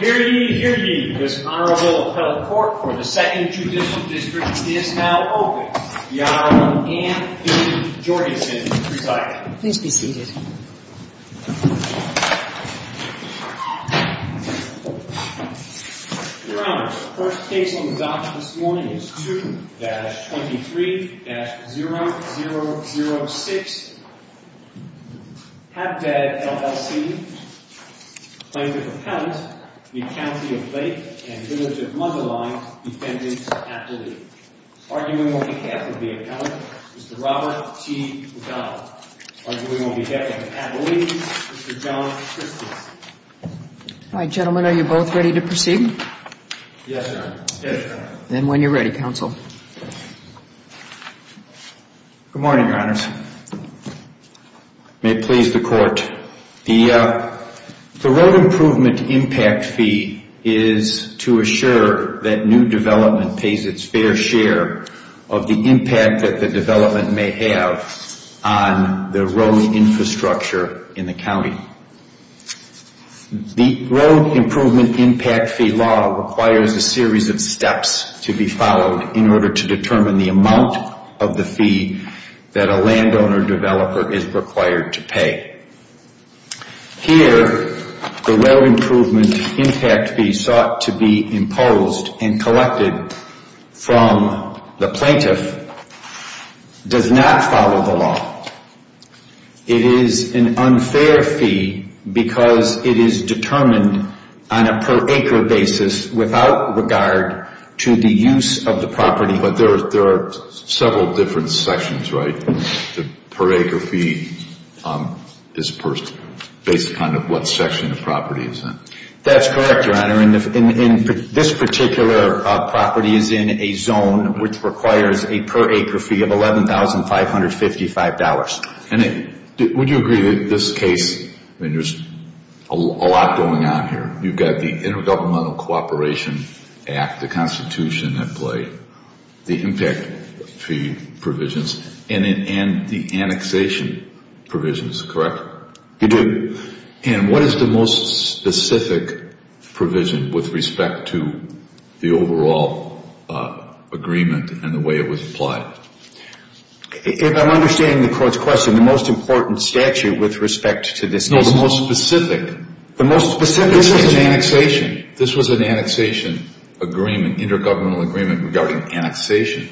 Hear ye, hear ye, this Honorable Appellate Court for the 2nd Judicial District is now open. The Honorable Ann P. Jorgensen presiding. Please be seated. Your Honor, the first case on the dock this morning is 2-23-0006. Habdab, LLC, claims as Appellant the County of Lake and Village of Mundelein Defendant Appellee. Arguing on behalf of the Appellant, Mr. Robert T. McDonald. Arguing on behalf of the Appellees, Mr. John Christensen. All right, gentlemen, are you both ready to proceed? Yes, Your Honor. Good morning, Your Honors. May it please the Court. The Road Improvement Impact Fee is to assure that new development pays its fair share of the impact that the development may have on the road infrastructure in the county. The Road Improvement Impact Fee law requires a series of steps to be followed in order to determine the amount of the fee that a landowner developer is required to pay. Here, the Road Improvement Impact Fee sought to be imposed and collected from the plaintiff does not follow the law. It is an unfair fee because it is determined on a per acre basis without regard to the use of the property. But there are several different sections, right? The per acre fee is based upon what section the property is in. That's correct, Your Honor. This particular property is in a zone which requires a per acre fee of $11,555. Would you agree that in this case, there's a lot going on here? You've got the Intergovernmental Cooperation Act, the Constitution at play, the impact fee provisions, and the annexation provisions, correct? You do. And what is the most specific provision with respect to the overall agreement and the way it was applied? If I'm understanding the Court's question, the most important statute with respect to this case? No, the most specific. The most specific? This was an annexation. This was an annexation agreement, intergovernmental agreement regarding annexation.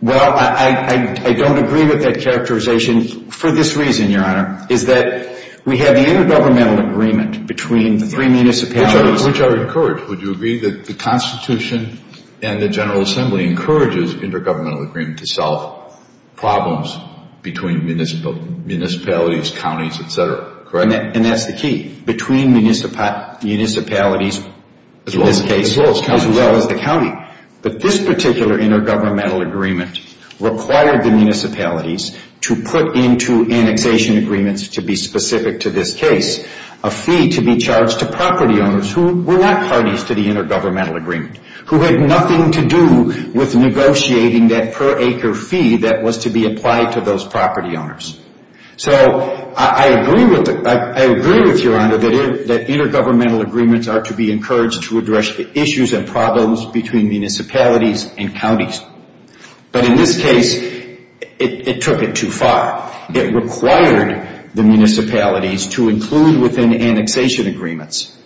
Well, I don't agree with that characterization for this reason, Your Honor, is that we have the intergovernmental agreement between the three municipalities. Which I would encourage. Would you agree that the Constitution and the General Assembly encourages intergovernmental agreement to solve problems between municipalities, counties, et cetera, correct? And that's the key, between municipalities in this case as well as the county. But this particular intergovernmental agreement required the municipalities to put into annexation agreements to be specific to this case, a fee to be charged to property owners who were not parties to the intergovernmental agreement, who had nothing to do with negotiating that per acre fee that was to be applied to those property owners. So I agree with you, Your Honor, that intergovernmental agreements are to be encouraged to address the issues and problems between municipalities and counties. But in this case, it took it too far. It required the municipalities to include within annexation agreements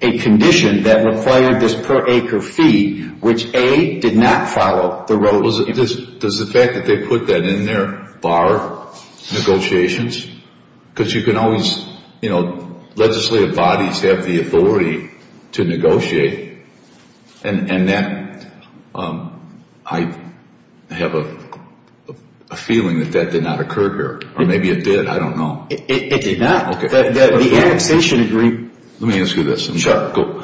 a condition that required this per acre fee, which, A, did not follow the rules. Does the fact that they put that in there bar negotiations? Because you can always, you know, legislative bodies have the authority to negotiate. And that, I have a feeling that that did not occur here. Or maybe it did. I don't know. It did not. The annexation agreement. Let me ask you this. Sure. Go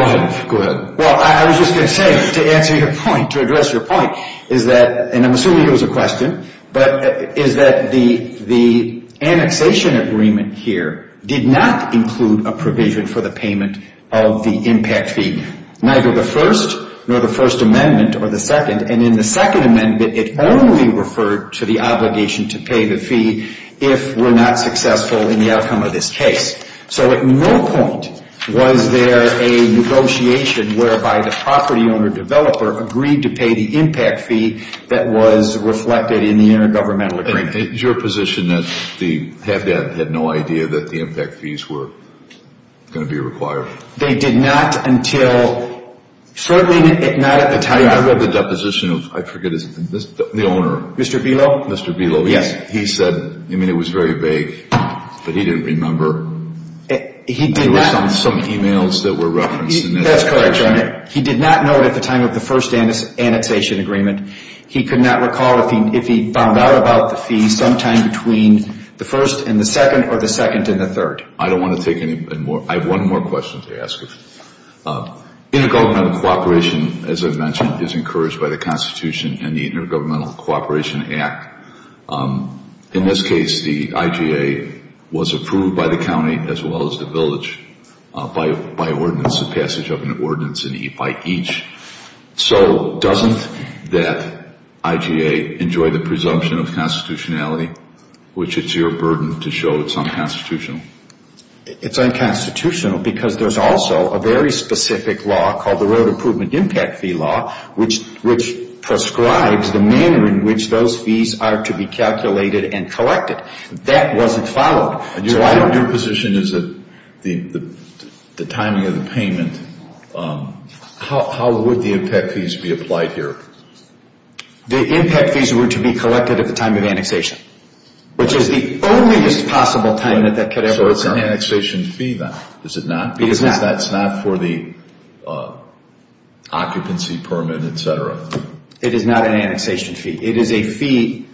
ahead. Well, I was just going to say, to answer your point, to address your point, is that, and I'm assuming it was a question, but is that the annexation agreement here did not include a provision for the payment of the impact fee, neither the first nor the First Amendment or the second. And in the Second Amendment, it only referred to the obligation to pay the fee if we're not successful in the outcome of this case. So at no point was there a negotiation whereby the property owner developer agreed to pay the impact fee that was reflected in the intergovernmental agreement. Is your position that the Habitat had no idea that the impact fees were going to be required? They did not until, certainly not at the time. I remember the deposition of, I forget his name, the owner. Mr. Velo? Mr. Velo. Yes. He said, I mean, it was very vague, but he didn't remember. He did not. There were some e-mails that were referenced. That's correct, Your Honor. He did not know at the time of the first annexation agreement. He could not recall if he found out about the fee sometime between the first and the second or the second and the third. I don't want to take any more. I have one more question to ask you. Intergovernmental cooperation, as I mentioned, is encouraged by the Constitution and the Intergovernmental Cooperation Act. In this case, the IGA was approved by the county as well as the village by ordinance, a passage of an ordinance by each. So doesn't that IGA enjoy the presumption of constitutionality, which it's your burden to show it's unconstitutional? It's unconstitutional because there's also a very specific law called the Road Improvement Impact Fee Law, which prescribes the manner in which those fees are to be calculated and collected. That wasn't followed. Your position is that the timing of the payment, how would the impact fees be applied here? The impact fees were to be collected at the time of annexation, which is the only possible time that that could ever occur. So it's an annexation fee then, is it not? It is not. Because that's not for the occupancy permit, et cetera. It is not an annexation fee. It is a fee,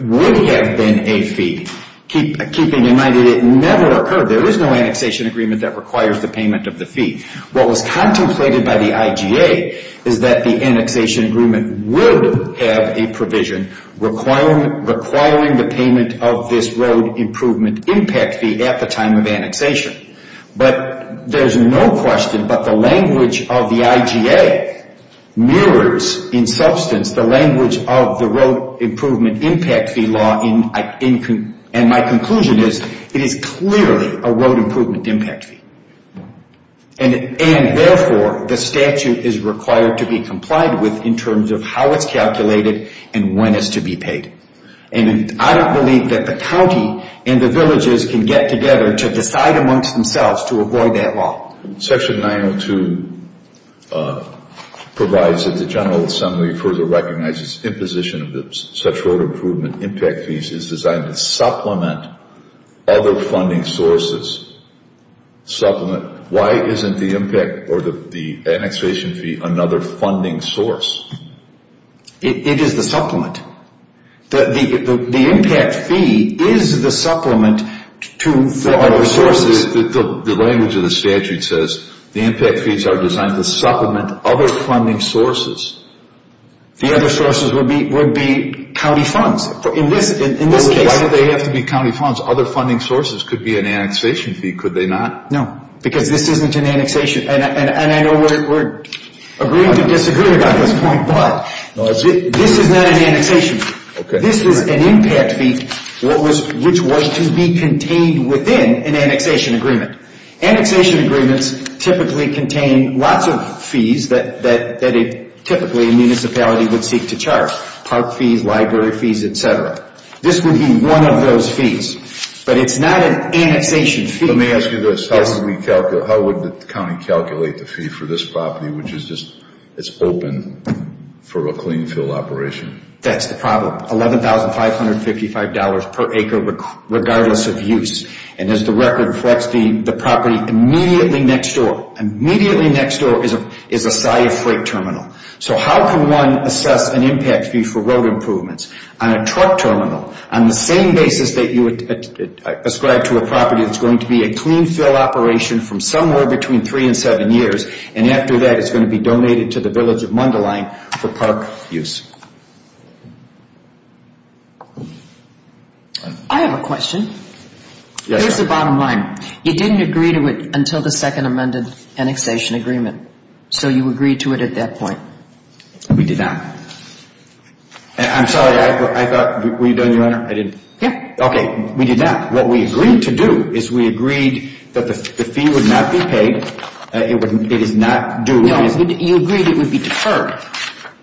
would have been a fee, keeping in mind that it never occurred. There is no annexation agreement that requires the payment of the fee. What was contemplated by the IGA is that the annexation agreement would have a provision requiring the payment of this Road Improvement Impact Fee at the time of annexation. But there's no question, but the language of the IGA mirrors, in substance, the language of the Road Improvement Impact Fee Law, and my conclusion is it is clearly a Road Improvement Impact Fee. And therefore, the statute is required to be complied with in terms of how it's calculated and when it's to be paid. And I don't believe that the county and the villages can get together to decide amongst themselves to avoid that law. Section 902 provides that the General Assembly further recognizes imposition of such Road Improvement Impact Fees is designed to supplement other funding sources. Supplement. Why isn't the impact or the annexation fee another funding source? It is the supplement. The impact fee is the supplement to other sources. The language of the statute says the impact fees are designed to supplement other funding sources. The other sources would be county funds. Why do they have to be county funds? Other funding sources could be an annexation fee, could they not? No, because this isn't an annexation. And I know we're agreeing to disagree about this point, but this is not an annexation fee. This is an impact fee which was to be contained within an annexation agreement. Annexation agreements typically contain lots of fees that typically a municipality would seek to charge, park fees, library fees, et cetera. This would be one of those fees. But it's not an annexation fee. Let me ask you this, how would the county calculate the fee for this property which is just open for a clean fill operation? That's the problem, $11,555 per acre regardless of use. And as the record reflects, the property immediately next door, immediately next door is a SCIA freight terminal. So how can one assess an impact fee for road improvements on a truck terminal on the same basis that you would ascribe to a property that's going to be a clean fill operation from somewhere between three and seven years, and after that it's going to be donated to the village of Mundelein for park use? I have a question. Here's the bottom line. You didn't agree to it until the second amended annexation agreement. So you agreed to it at that point. We did not. I'm sorry, I thought, were you done, Your Honor? I didn't. Yeah. Okay, we did not. What we agreed to do is we agreed that the fee would not be paid. It is not due. No, you agreed it would be deferred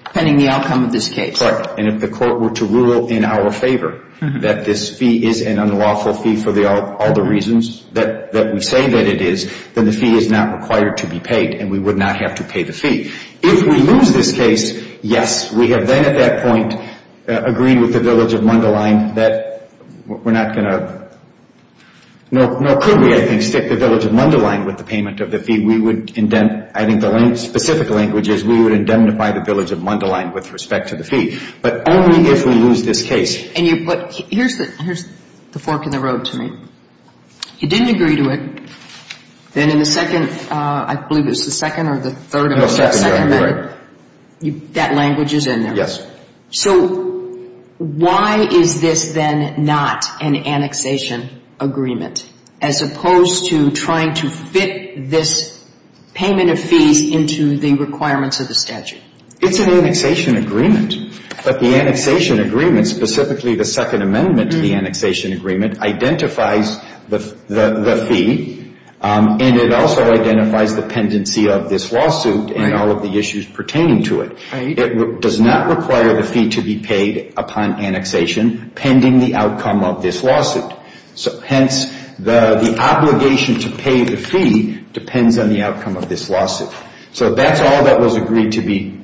depending on the outcome of this case. Correct. And if the court were to rule in our favor that this fee is an unlawful fee for all the reasons that we say that it is, then the fee is not required to be paid and we would not have to pay the fee. If we lose this case, yes, we have then at that point agreed with the village of Mundelein that we're not going to, nor could we, I think, stick the village of Mundelein with the payment of the fee. We would, I think the specific language is we would indemnify the village of Mundelein with respect to the fee. But only if we lose this case. Here's the fork in the road to me. You didn't agree to it. Then in the second, I believe it was the second or the third or the second amendment, that language is in there. Yes. So why is this then not an annexation agreement, as opposed to trying to fit this payment of fees into the requirements of the statute? It's an annexation agreement. But the annexation agreement, specifically the Second Amendment to the annexation agreement, identifies the fee and it also identifies the pendency of this lawsuit and all of the issues pertaining to it. It does not require the fee to be paid upon annexation pending the outcome of this lawsuit. Hence, the obligation to pay the fee depends on the outcome of this lawsuit. So that's all that was agreed to be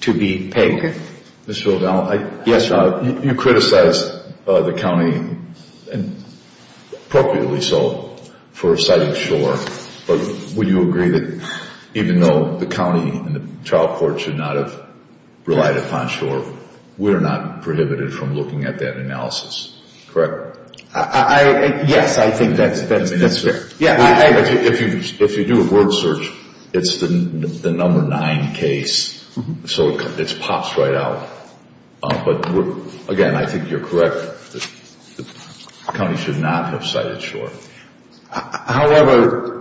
paid. Thank you. Mr. O'Donnell. Yes, Your Honor. You criticized the county, and appropriately so, for citing shore. But would you agree that even though the county and the trial court should not have relied upon shore, we're not prohibited from looking at that analysis, correct? Yes, I think that's fair. If you do a word search, it's the number nine case. So it pops right out. But, again, I think you're correct. The county should not have cited shore. However,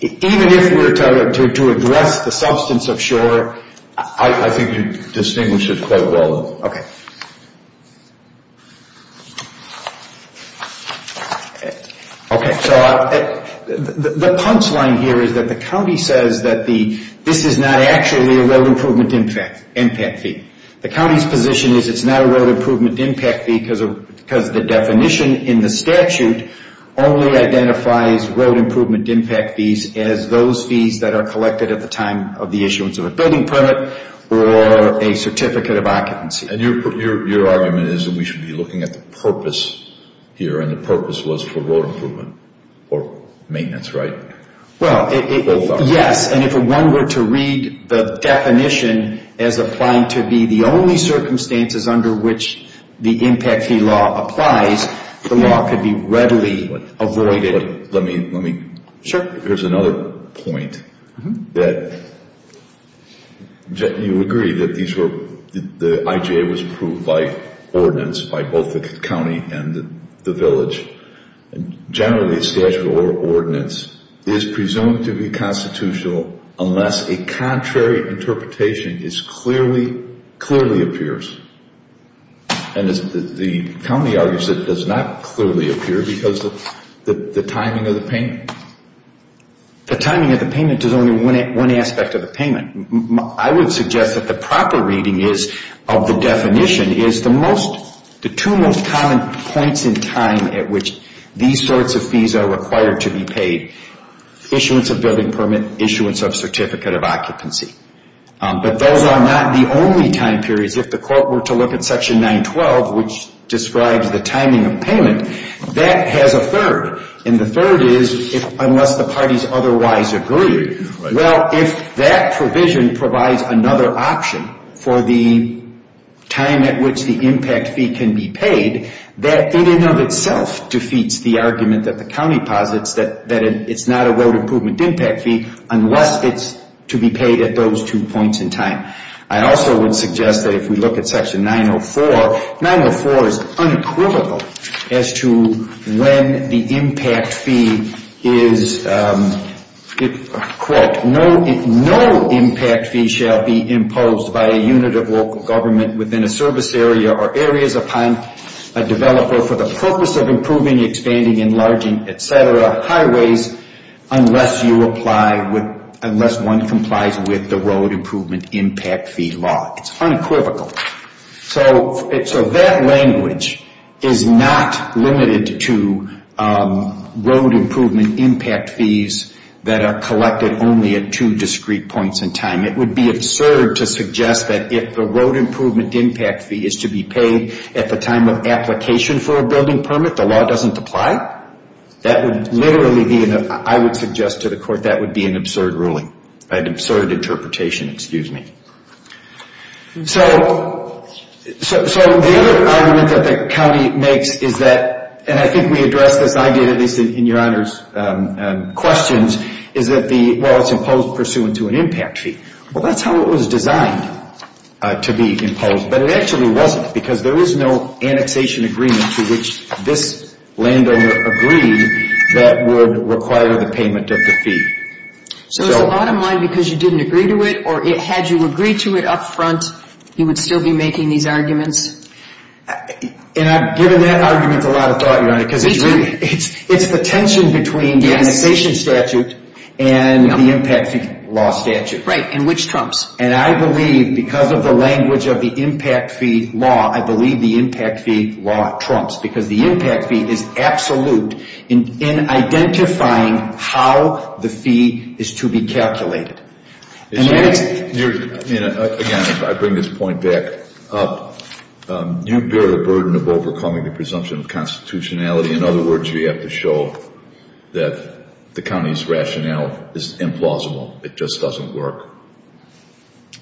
even if we were to address the substance of shore, I think you'd distinguish it quite well. Okay. The punch line here is that the county says that this is not actually a road improvement impact fee. The county's position is it's not a road improvement impact fee because the definition in the statute only identifies road improvement impact fees as those fees that are collected at the time of the issuance of a building permit or a certificate of occupancy. And your argument is that we should be looking at the purpose here, and the purpose was for road improvement or maintenance, right? Well, yes. And if one were to read the definition as applying to be the only circumstances under which the impact fee law applies, the law could be readily avoided. Here's another point. You agree that the IJA was approved by ordinance by both the county and the village. Generally, a statute or ordinance is presumed to be constitutional unless a contrary interpretation clearly appears. And the county argues it does not clearly appear because of the timing of the payment. The timing of the payment is only one aspect of the payment. I would suggest that the proper reading of the definition is the two most common points in time at which these sorts of fees are required to be paid, issuance of building permit, issuance of certificate of occupancy. But those are not the only time periods. If the court were to look at Section 912, which describes the timing of payment, that has a third. And the third is unless the parties otherwise agree. Well, if that provision provides another option for the time at which the impact fee can be paid, that in and of itself defeats the argument that the county posits that it's not a road improvement impact fee unless it's to be paid at those two points in time. I also would suggest that if we look at Section 904, 904 is unequivocal as to when the impact fee is, quote, no impact fee shall be imposed by a unit of local government within a service area or areas upon a developer for the purpose of improving, expanding, enlarging, et cetera, highways, unless you apply, unless one complies with the road improvement impact fee law. It's unequivocal. So that language is not limited to road improvement impact fees that are collected only at two discrete points in time. It would be absurd to suggest that if the road improvement impact fee is to be paid at the time of application for a building permit, the law doesn't apply. That would literally be, I would suggest to the court, that would be an absurd ruling, an absurd interpretation, excuse me. So the other argument that the county makes is that, and I think we addressed this, in your Honor's questions, is that the, well, it's imposed pursuant to an impact fee. Well, that's how it was designed to be imposed, but it actually wasn't, because there is no annexation agreement to which this landowner agreed that would require the payment of the fee. So it's a lot of money because you didn't agree to it, or had you agreed to it up front, you would still be making these arguments? And I've given that argument a lot of thought, your Honor, because it's the tension between the annexation statute and the impact fee law statute. Right, and which trumps? And I believe, because of the language of the impact fee law, I believe the impact fee law trumps, because the impact fee is absolute in identifying how the fee is to be calculated. Again, I bring this point back up. You bear the burden of overcoming the presumption of constitutionality. In other words, you have to show that the county's rationale is implausible. It just doesn't work.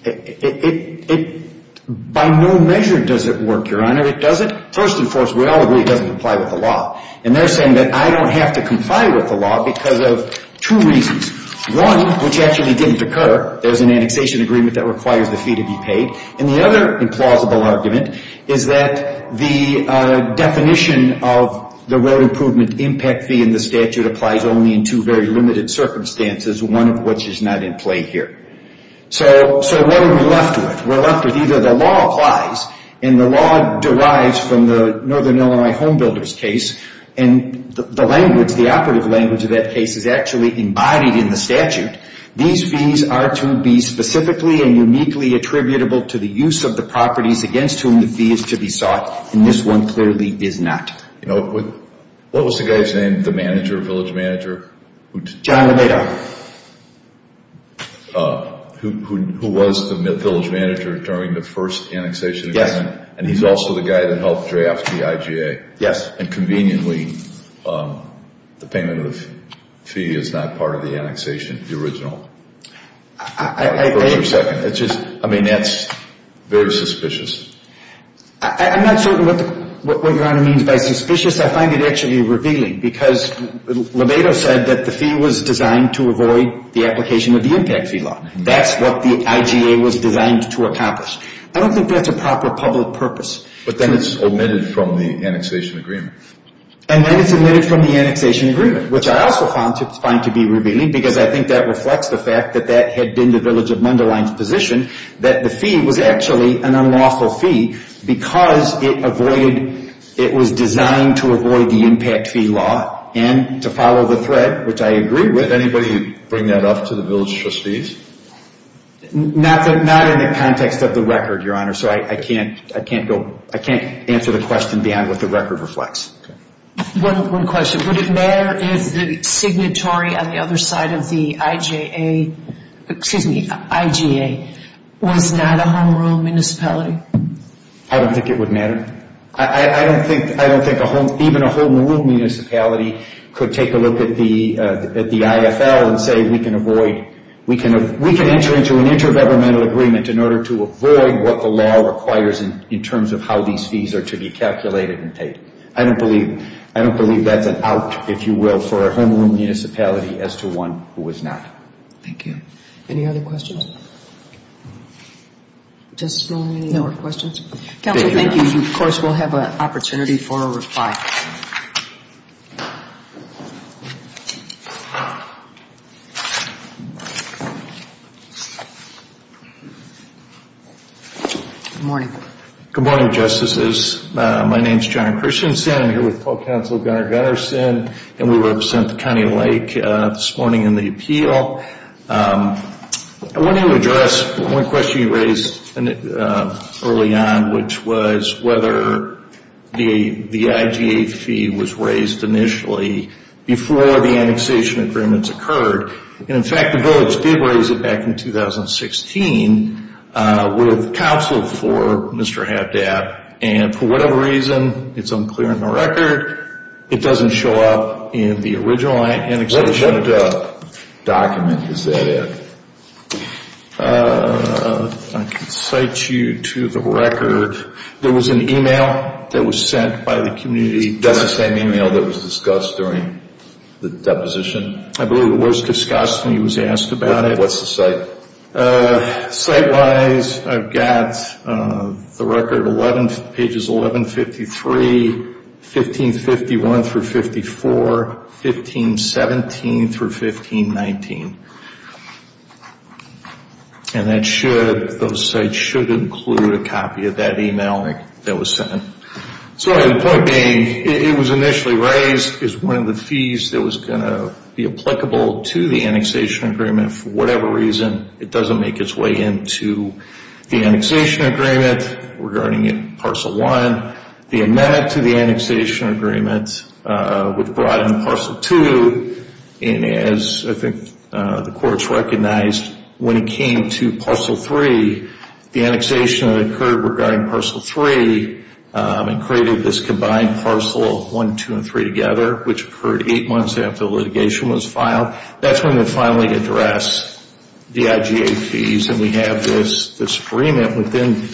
It, by no measure does it work, your Honor. It doesn't, first and foremost, we all agree it doesn't comply with the law. And they're saying that I don't have to comply with the law because of two reasons. One, which actually didn't occur. There's an annexation agreement that requires the fee to be paid. And the other implausible argument is that the definition of the road improvement impact fee in the statute applies only in two very limited circumstances, one of which is not in play here. So what are we left with? We're left with either the law applies, and the law derives from the Northern Illinois Homebuilders case, and the language, the operative language of that case is actually embodied in the statute. These fees are to be specifically and uniquely attributable to the use of the properties against whom the fee is to be sought. And this one clearly is not. You know, what was the guy's name, the manager, village manager? John Lebedoff. Who was the village manager during the first annexation agreement. Yes. And he's also the guy that helped draft the IGA. Yes. And conveniently, the payment of the fee is not part of the annexation, the original. I think. For a second. It's just, I mean, that's very suspicious. I'm not certain what Your Honor means by suspicious. I find it actually revealing because Lebedoff said that the fee was designed to avoid the application of the impact fee law. That's what the IGA was designed to accomplish. I don't think that's a proper public purpose. But then it's omitted from the annexation agreement. And then it's omitted from the annexation agreement, which I also find to be revealing because I think that reflects the fact that that had been the village of Mundelein's position, that the fee was actually an unlawful fee because it avoided, it was designed to avoid the impact fee law and to follow the thread, which I agree with. Did anybody bring that up to the village trustees? Not in the context of the record, Your Honor, so I can't answer the question beyond what the record reflects. One question. Would it matter if the signatory on the other side of the IGA was not a home rule municipality? I don't think it would matter. I don't think even a home rule municipality could take a look at the IFL and say we can enter into an intergovernmental agreement in order to avoid what the law requires in terms of how these fees are to be calculated and paid. I don't believe that's an out, if you will, for a home rule municipality as to one who is not. Thank you. Any other questions? Just so many more questions. Counsel, thank you. Of course, we'll have an opportunity for a reply. Good morning. Good morning, Justices. My name is John Christensen. I'm here with Paul Counsel, Gunnar Gunnarsson, and we represent the County of Lake this morning in the appeal. I wanted to address one question you raised early on, which was whether the IGA fee was raised initially before the annexation agreements occurred. In fact, the village did raise it back in 2016 with counsel for Mr. Havdab, and for whatever reason, it's unclear in the record. It doesn't show up in the original annexation. What document is that in? I can cite you to the record. There was an email that was sent by the community. That's the same email that was discussed during the deposition? I believe it was discussed when he was asked about it. What's the cite? Cite-wise, I've got the record, pages 1153, 1551-54, 1517-1519. And those cites should include a copy of that email that was sent. The point being, it was initially raised as one of the fees that was going to be applicable to the annexation agreement. For whatever reason, it doesn't make its way into the annexation agreement regarding Parcel 1. The amendment to the annexation agreement would broaden Parcel 2, and as I think the courts recognized, when it came to Parcel 3, the annexation occurred regarding Parcel 3, and created this combined Parcel 1, 2, and 3 together, which occurred eight months after the litigation was filed. That's when we finally address the IGA fees, and we have this agreement within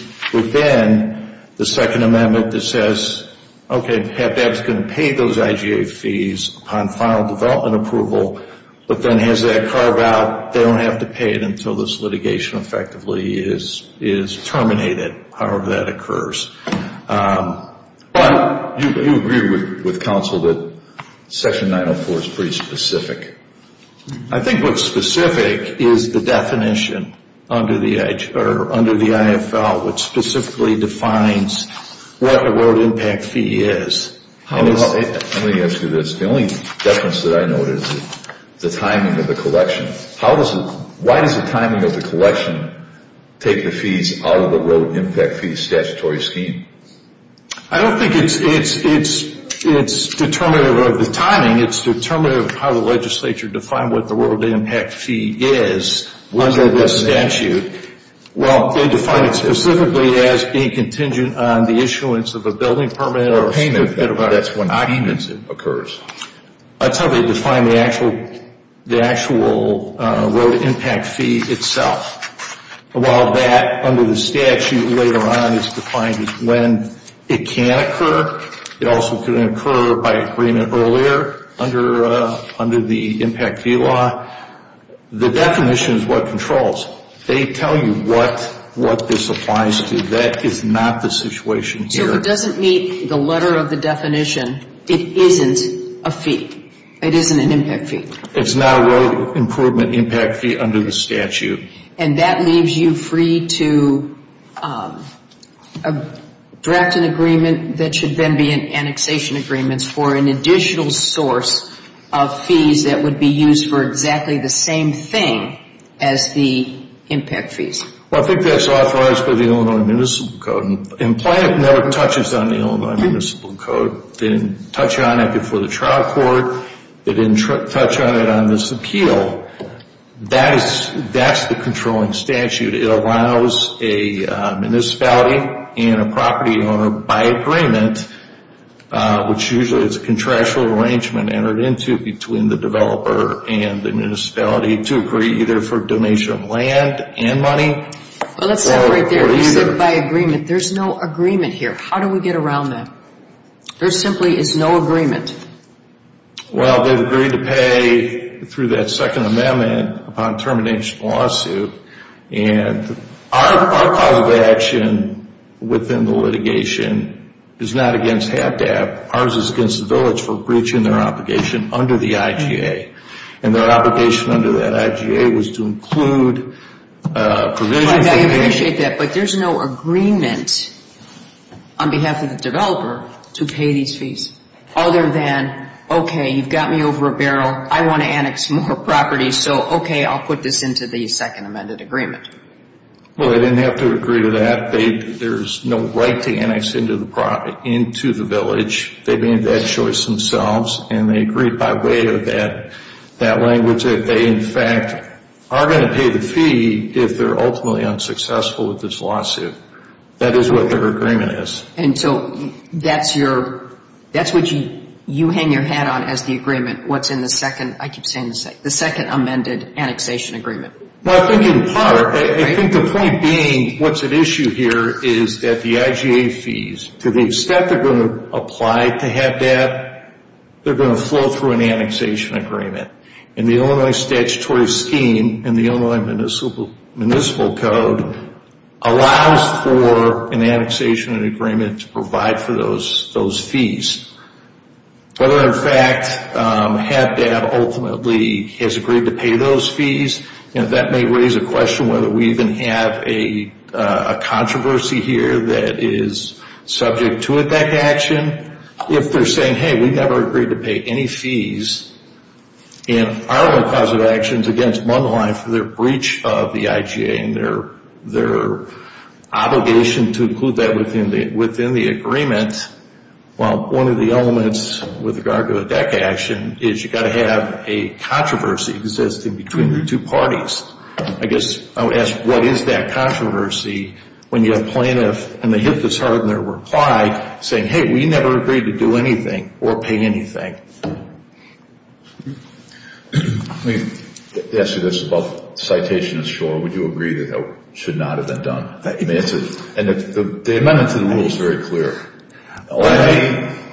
the Second Amendment that says, okay, HAPAC's going to pay those IGA fees upon final development approval, but then as they carve out, they don't have to pay it until this litigation effectively is terminated, however that occurs. But you agree with counsel that Section 904 is pretty specific. I think what's specific is the definition under the IFL, which specifically defines what a road impact fee is. Let me ask you this. The only difference that I notice is the timing of the collection. Why does the timing of the collection take the fees out of the road impact fee statutory scheme? I don't think it's determinative of the timing. It's determinative of how the legislature defined what the road impact fee is under the statute. Well, they define it specifically as being contingent on the issuance of a building permit or payment. That's when the payment occurs. That's how they define the actual road impact fee itself. While that under the statute later on is defined as when it can occur, it also can occur by agreement earlier under the impact fee law. The definition is what controls. They tell you what this applies to. That is not the situation here. So it doesn't meet the letter of the definition. It isn't a fee. It isn't an impact fee. It's not a road improvement impact fee under the statute. And that leaves you free to draft an agreement that should then be an annexation agreement for an additional source of fees that would be used for exactly the same thing as the impact fees. Well, I think that's authorized by the Illinois Municipal Code. It never touches on the Illinois Municipal Code. It didn't touch on it before the trial court. It didn't touch on it on this appeal. That's the controlling statute. It allows a municipality and a property owner by agreement, which usually is a contractual arrangement entered into between the developer and the municipality to agree either for donation of land and money. Well, let's stop right there. You said by agreement. There's no agreement here. How do we get around that? There simply is no agreement. Well, they've agreed to pay through that Second Amendment upon termination of the lawsuit. And our cause of action within the litigation is not against HATDAP. Ours is against the village for breaching their obligation under the IGA. And their obligation under that IGA was to include provisions. I appreciate that, but there's no agreement on behalf of the developer to pay these fees. Other than, okay, you've got me over a barrel. I want to annex more property. So, okay, I'll put this into the Second Amendment agreement. Well, they didn't have to agree to that. There's no right to annex into the village. They made that choice themselves. And they agreed by way of that language that they, in fact, are going to pay the fee if they're ultimately unsuccessful with this lawsuit. That is what their agreement is. And so that's what you hang your hat on as the agreement, what's in the Second Amended Annexation Agreement. Well, I think in part, I think the point being what's at issue here is that the IGA fees, to the extent they're going to apply to HATDAP, they're going to flow through an annexation agreement. And the Illinois statutory scheme and the Illinois Municipal Code allows for an annexation agreement to provide for those fees. Whether, in fact, HATDAP ultimately has agreed to pay those fees, that may raise a question whether we even have a controversy here that is subject to a back action. If they're saying, hey, we never agreed to pay any fees, if our cause of action is against one line for their breach of the IGA and their obligation to include that within the agreement, well, one of the elements with regard to a back action is you've got to have a controversy existing between the two parties. I guess I would ask what is that controversy when you have a plaintiff, and they hit this hard in their reply, saying, hey, we never agreed to do anything or pay anything. Let me ask you this. The citation is short. Would you agree that that should not have been done? And the amendment to the rule is very clear.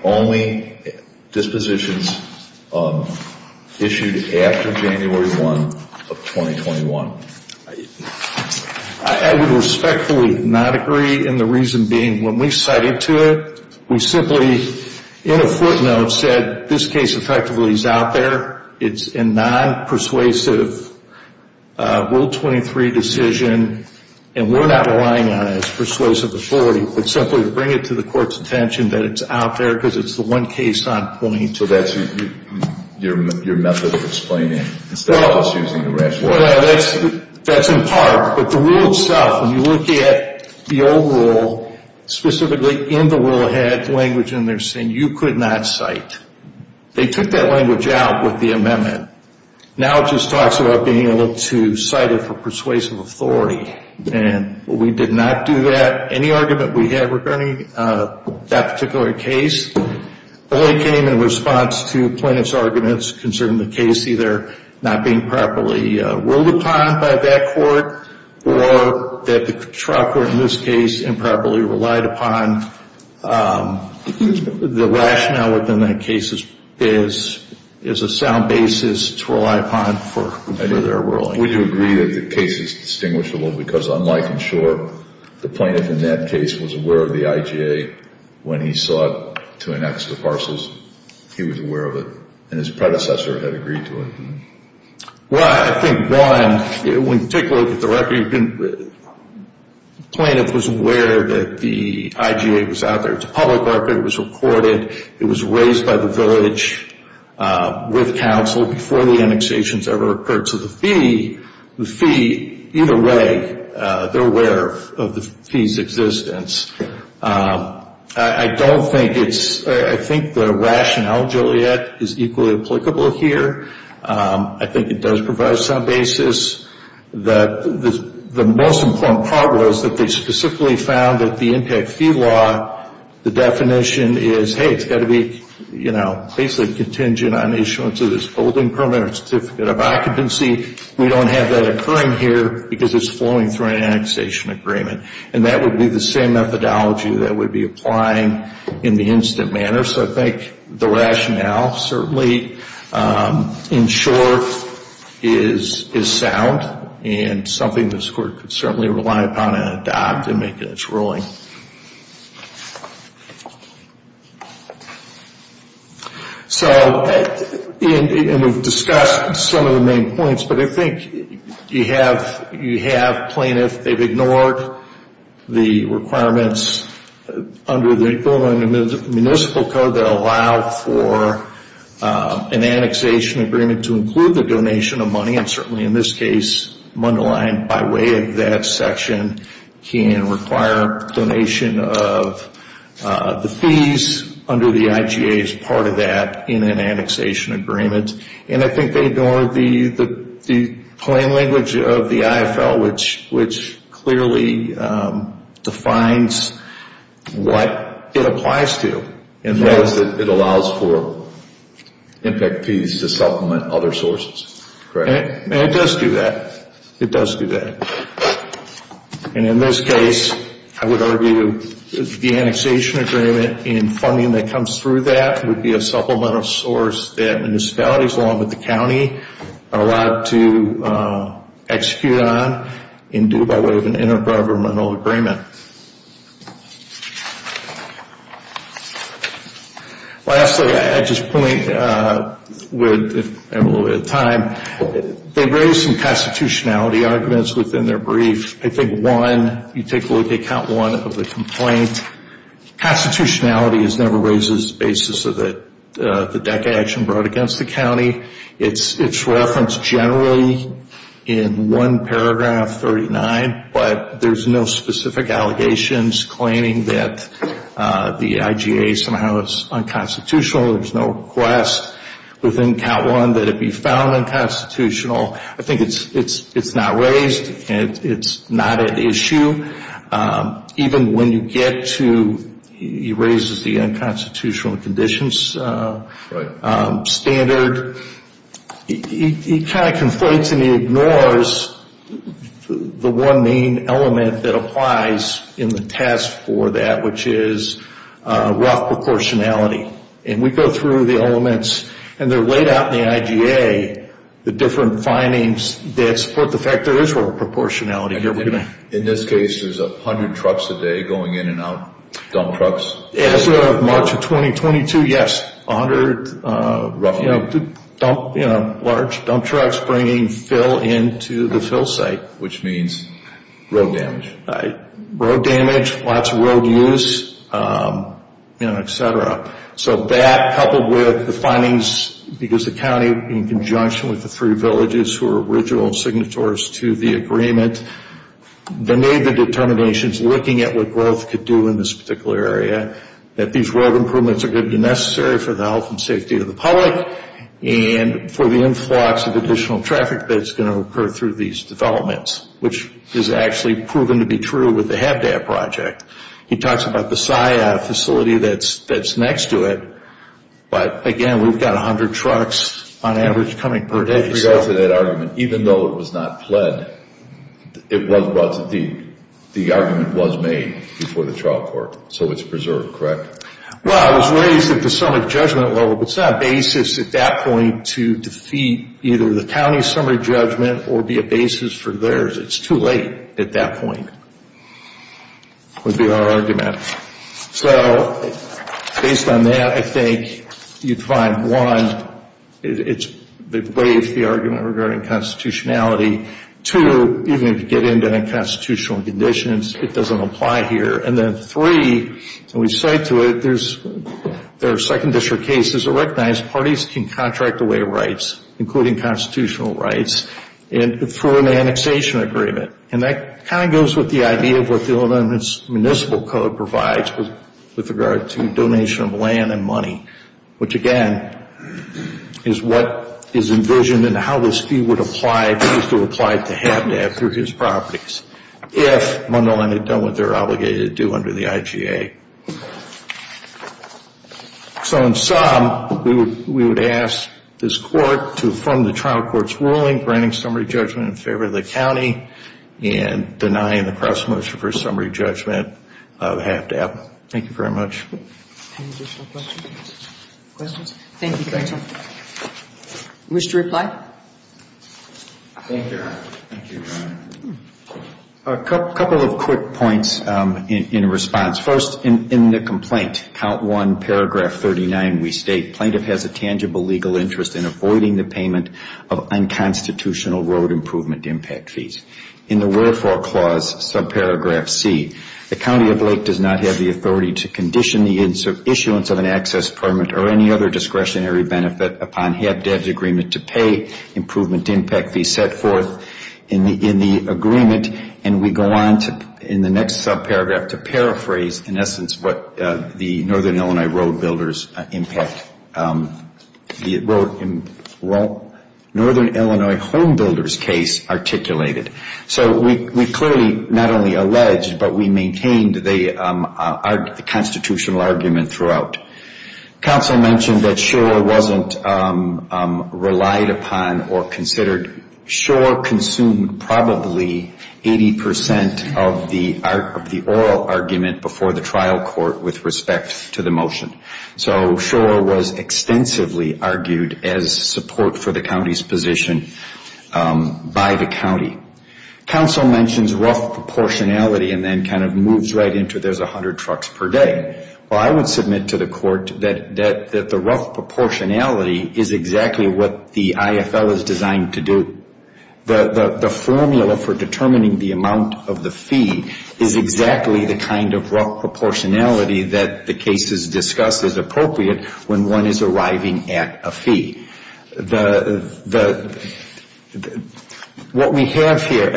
Only dispositions issued after January 1 of 2021. I would respectfully not agree, and the reason being when we cited to it, we simply, in a footnote, said this case effectively is out there. It's a non-persuasive Will 23 decision, and we're not relying on it as persuasive authority, but simply to bring it to the court's attention that it's out there because it's the one case on point. So that's your method of explaining it instead of us using the rationale. Well, that's in part. But the rule itself, when you look at the old rule, specifically in the will, it had language in there saying you could not cite. They took that language out with the amendment. Now it just talks about being able to cite it for persuasive authority, and we did not do that. Any argument we had regarding that particular case only came in response to plaintiff's arguments concerning the case either not being properly ruled upon by that court or that the trial court in this case improperly relied upon the rationale within that case as a sound basis to rely upon for their ruling. We do agree that the case is distinguishable because unlike in short, the plaintiff in that case was aware of the IGA when he sought to annex the parcels. He was aware of it, and his predecessor had agreed to it. Well, I think, Brian, when you take a look at the record, the plaintiff was aware that the IGA was out there. It's a public record. It was recorded. It was raised by the village with counsel before the annexations ever occurred. So the fee, either way, they're aware of the fee's existence. I don't think it's, I think the rationale, Joliet, is equally applicable here. I think it does provide a sound basis. The most important part was that they specifically found that the impact fee law, the definition is, hey, it's got to be, you know, basically contingent on the issuance of this holding permit or certificate of occupancy. We don't have that occurring here because it's flowing through an annexation agreement, and that would be the same methodology that would be applying in the instant manner. So I think the rationale certainly, in short, is sound and something this Court could certainly rely upon and adopt in making its ruling. So, and we've discussed some of the main points, but I think you have plaintiffs, they've ignored the requirements under the Equal and Municipal Code that allow for an annexation agreement to include the donation of money, and certainly in this case, Mundelein, by way of that section, can require donation of the fees under the IGA as part of that in an annexation agreement. And I think they ignored the plain language of the IFL, which clearly defines what it applies to. It allows for impact fees to supplement other sources, correct? And it does do that. It does do that. And in this case, I would argue the annexation agreement and funding that comes through that would be a supplemental source that municipalities, along with the county, are allowed to execute on and do by way of an inter-governmental agreement. Lastly, I'd just point with, if I have a little bit of time, they raised some constitutionality arguments within their brief. I think one, you take a look at count one of the complaint, constitutionality never raises the basis of the DACA action brought against the county. It's referenced generally in one paragraph 39, but there's no specific allegations claiming that the IGA somehow is unconstitutional. There's no request within count one that it be found unconstitutional. I think it's not raised. It's not an issue. Even when you get to, he raises the unconstitutional conditions standard. He kind of conflates and he ignores the one main element that applies in the test for that, which is rough proportionality. And we go through the elements, and they're laid out in the IGA, the different findings that support the fact there is rough proportionality here. And in this case, there's 100 trucks a day going in and out, dump trucks? As of March of 2022, yes, 100 large dump trucks bringing fill into the fill site. Which means road damage. Road damage, lots of road use, et cetera. So that, coupled with the findings, because the county, in conjunction with the three villages who are original signatories to the agreement, they made the determinations looking at what growth could do in this particular area, that these road improvements are going to be necessary for the health and safety of the public and for the influx of additional traffic that's going to occur through these developments, which is actually proven to be true with the HabDap project. He talks about the SIA facility that's next to it, but again, we've got 100 trucks on average coming per day. With regard to that argument, even though it was not pled, the argument was made before the trial court, so it's preserved, correct? Well, it was raised at the summary judgment level, but it's not a basis at that point to defeat either the county's summary judgment or be a basis for theirs. It's too late at that point, would be our argument. So, based on that, I think you'd find, one, it waives the argument regarding constitutionality. Two, even if you get into the constitutional conditions, it doesn't apply here. And then three, and we cite to it, there are second district cases that recognize parties can contract away rights, including constitutional rights, for an annexation agreement. And that kind of goes with the idea of what the Illinois Municipal Code provides with regard to donation of land and money, which again is what is envisioned and how this fee would apply if it was to apply to HabDap through his properties, if Mundelein had done what they're obligated to do under the IGA. So, in sum, we would ask this court to affirm the trial court's ruling, granting summary judgment in favor of the county, and denying the cross-motion for summary judgment of HabDap. Thank you very much. Any additional questions? Thank you, counsel. Wish to reply? Thank you. A couple of quick points in response. First, in the complaint, count one, paragraph 39, we state, plaintiff has a tangible legal interest in avoiding the payment of unconstitutional road improvement impact fees. In the wherefore clause, subparagraph C, the county of Lake does not have the authority to condition the issuance of an access permit or any other discretionary benefit upon HabDap's agreement to pay improvement impact fees set forth in the agreement, and we go on in the next subparagraph to paraphrase, in essence, what the Northern Illinois Road Builders case articulated. So we clearly not only alleged, but we maintained the constitutional argument throughout. Counsel mentioned that Schor wasn't relied upon or considered. Schor consumed probably 80 percent of the oral argument before the trial court with respect to the motion. So Schor was extensively argued as support for the county's position by the county. Counsel mentions rough proportionality and then kind of moves right into there's 100 trucks per day. Well, I would submit to the court that the rough proportionality is exactly what the IFL is designed to do. The formula for determining the amount of the fee is exactly the kind of rough proportionality that the cases discuss as appropriate when one is arriving at a fee. What we have here,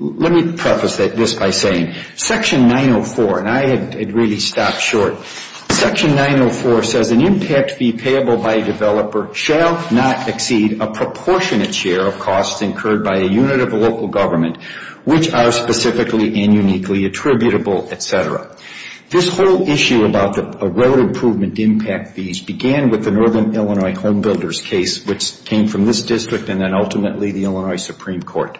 let me preface this by saying Section 904, and I had really stopped short. Section 904 says an impact fee payable by a developer shall not exceed a proportionate share of costs incurred by a unit of a local government, which are specifically and uniquely attributable, et cetera. This whole issue about the road improvement impact fees began with the Northern Illinois Home Builders case, which came from this district and then ultimately the Illinois Supreme Court.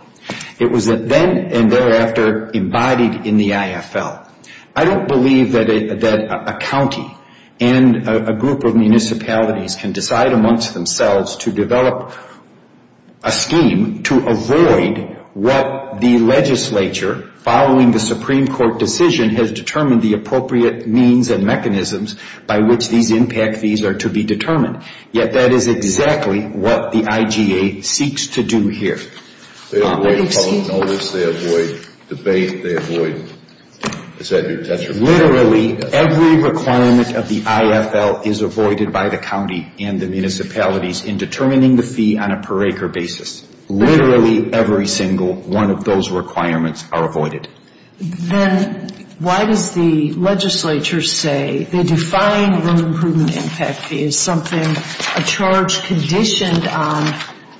It was then and thereafter embodied in the IFL. I don't believe that a county and a group of municipalities can decide amongst themselves to develop a scheme to avoid what the legislature, following the Supreme Court decision, has determined the appropriate means and mechanisms by which these impact fees are to be determined. Yet that is exactly what the IGA seeks to do here. They avoid public notice. They avoid debate. They avoid, as I said, detriment. Literally every requirement of the IFL is avoided by the county and the municipalities in determining the fee on a per acre basis. Literally every single one of those requirements are avoided. Then why does the legislature say the defined road improvement impact fee is something a charge conditioned on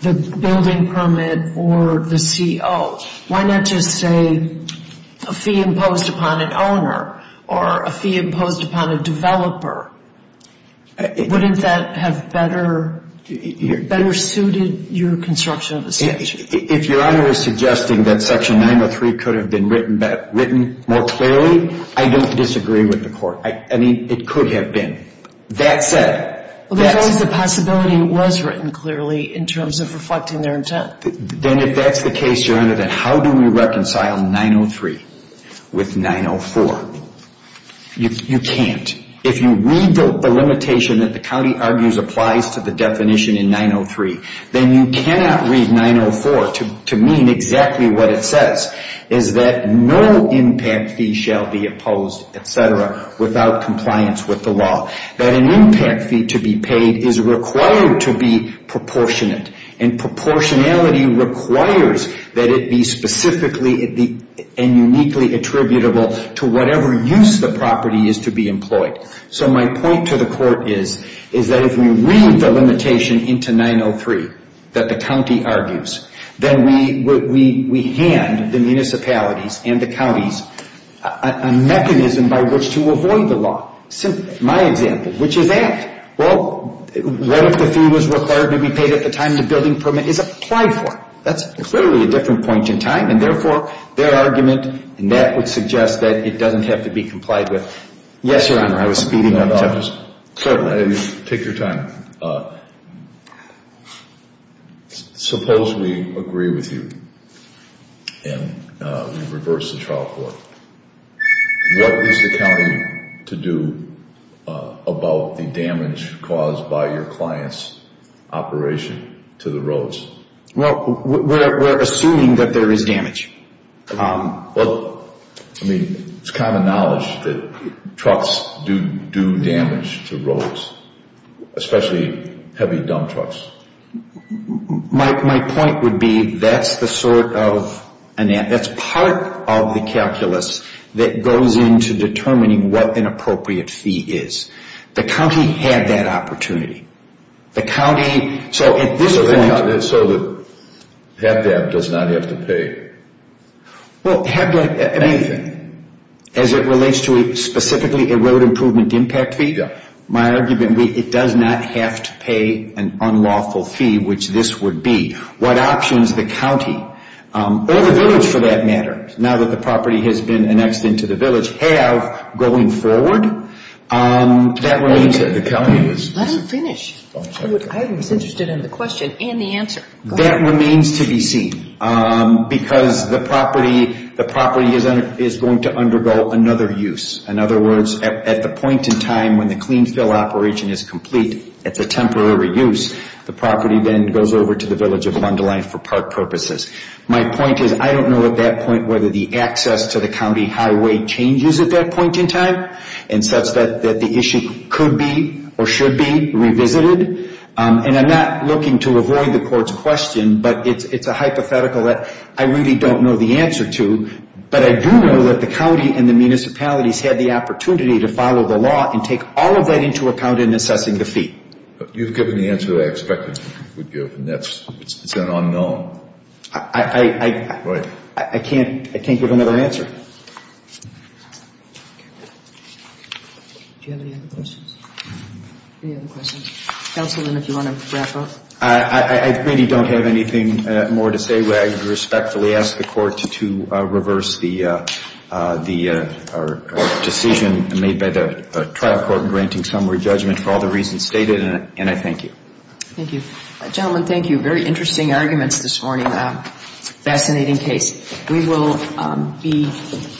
the building permit or the CO? Why not just say a fee imposed upon an owner or a fee imposed upon a developer? Wouldn't that have better suited your construction of the statute? If Your Honor is suggesting that Section 903 could have been written more clearly, I don't disagree with the Court. I mean, it could have been. That said. Well, because the possibility was written clearly in terms of reflecting their intent. Then if that's the case, Your Honor, then how do we reconcile 903 with 904? You can't. If you read the limitation that the county argues applies to the definition in 903, then you cannot read 904 to mean exactly what it says, is that no impact fee shall be imposed, et cetera, without compliance with the law. That an impact fee to be paid is required to be proportionate, and proportionality requires that it be specifically and uniquely attributable to whatever use the property is to be employed. So my point to the Court is that if we read the limitation into 903 that the county argues, then we hand the municipalities and the counties a mechanism by which to avoid the law. My example, which is that. Well, what if the fee was required to be paid at the time the building permit is applied for? That's clearly a different point in time, and therefore their argument in that would suggest that it doesn't have to be complied with. Yes, Your Honor, I was speeding up. Take your time. Suppose we agree with you and we reverse the trial court. What is the county to do about the damage caused by your client's operation to the roads? Well, we're assuming that there is damage. Well, I mean, it's common knowledge that trucks do damage to roads, especially heavy dump trucks. My point would be that's the sort of, that's part of the calculus that goes into determining what an appropriate fee is. The county had that opportunity. So the HAPDAP does not have to pay anything? Well, HAPDAP, I mean, as it relates to specifically a road improvement impact fee, my argument would be it does not have to pay an unlawful fee, which this would be. What options the county, or the village for that matter, now that the property has been annexed into the village, have going forward, that remains. Let him finish. I was interested in the question and the answer. That remains to be seen because the property is going to undergo another use. In other words, at the point in time when the clean fill operation is complete, it's a temporary use, the property then goes over to the village of Bundeline for park purposes. My point is I don't know at that point whether the access to the county highway changes at that point in time in such that the issue could be or should be revisited. And I'm not looking to avoid the court's question, but it's a hypothetical that I really don't know the answer to. But I do know that the county and the municipalities had the opportunity to follow the law and take all of that into account in assessing the fee. You've given the answer I expected you would give, and it's an unknown. I can't give another answer. Do you have any other questions? Any other questions? Counsel, if you want to wrap up. I really don't have anything more to say. I would respectfully ask the court to reverse the decision made by the trial court in granting summary judgment for all the reasons stated, and I thank you. Thank you. Gentlemen, thank you. Very interesting arguments this morning. Fascinating case. We will be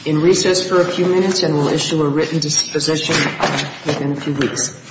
in recess for a few minutes, and we'll issue a written disposition within a few weeks.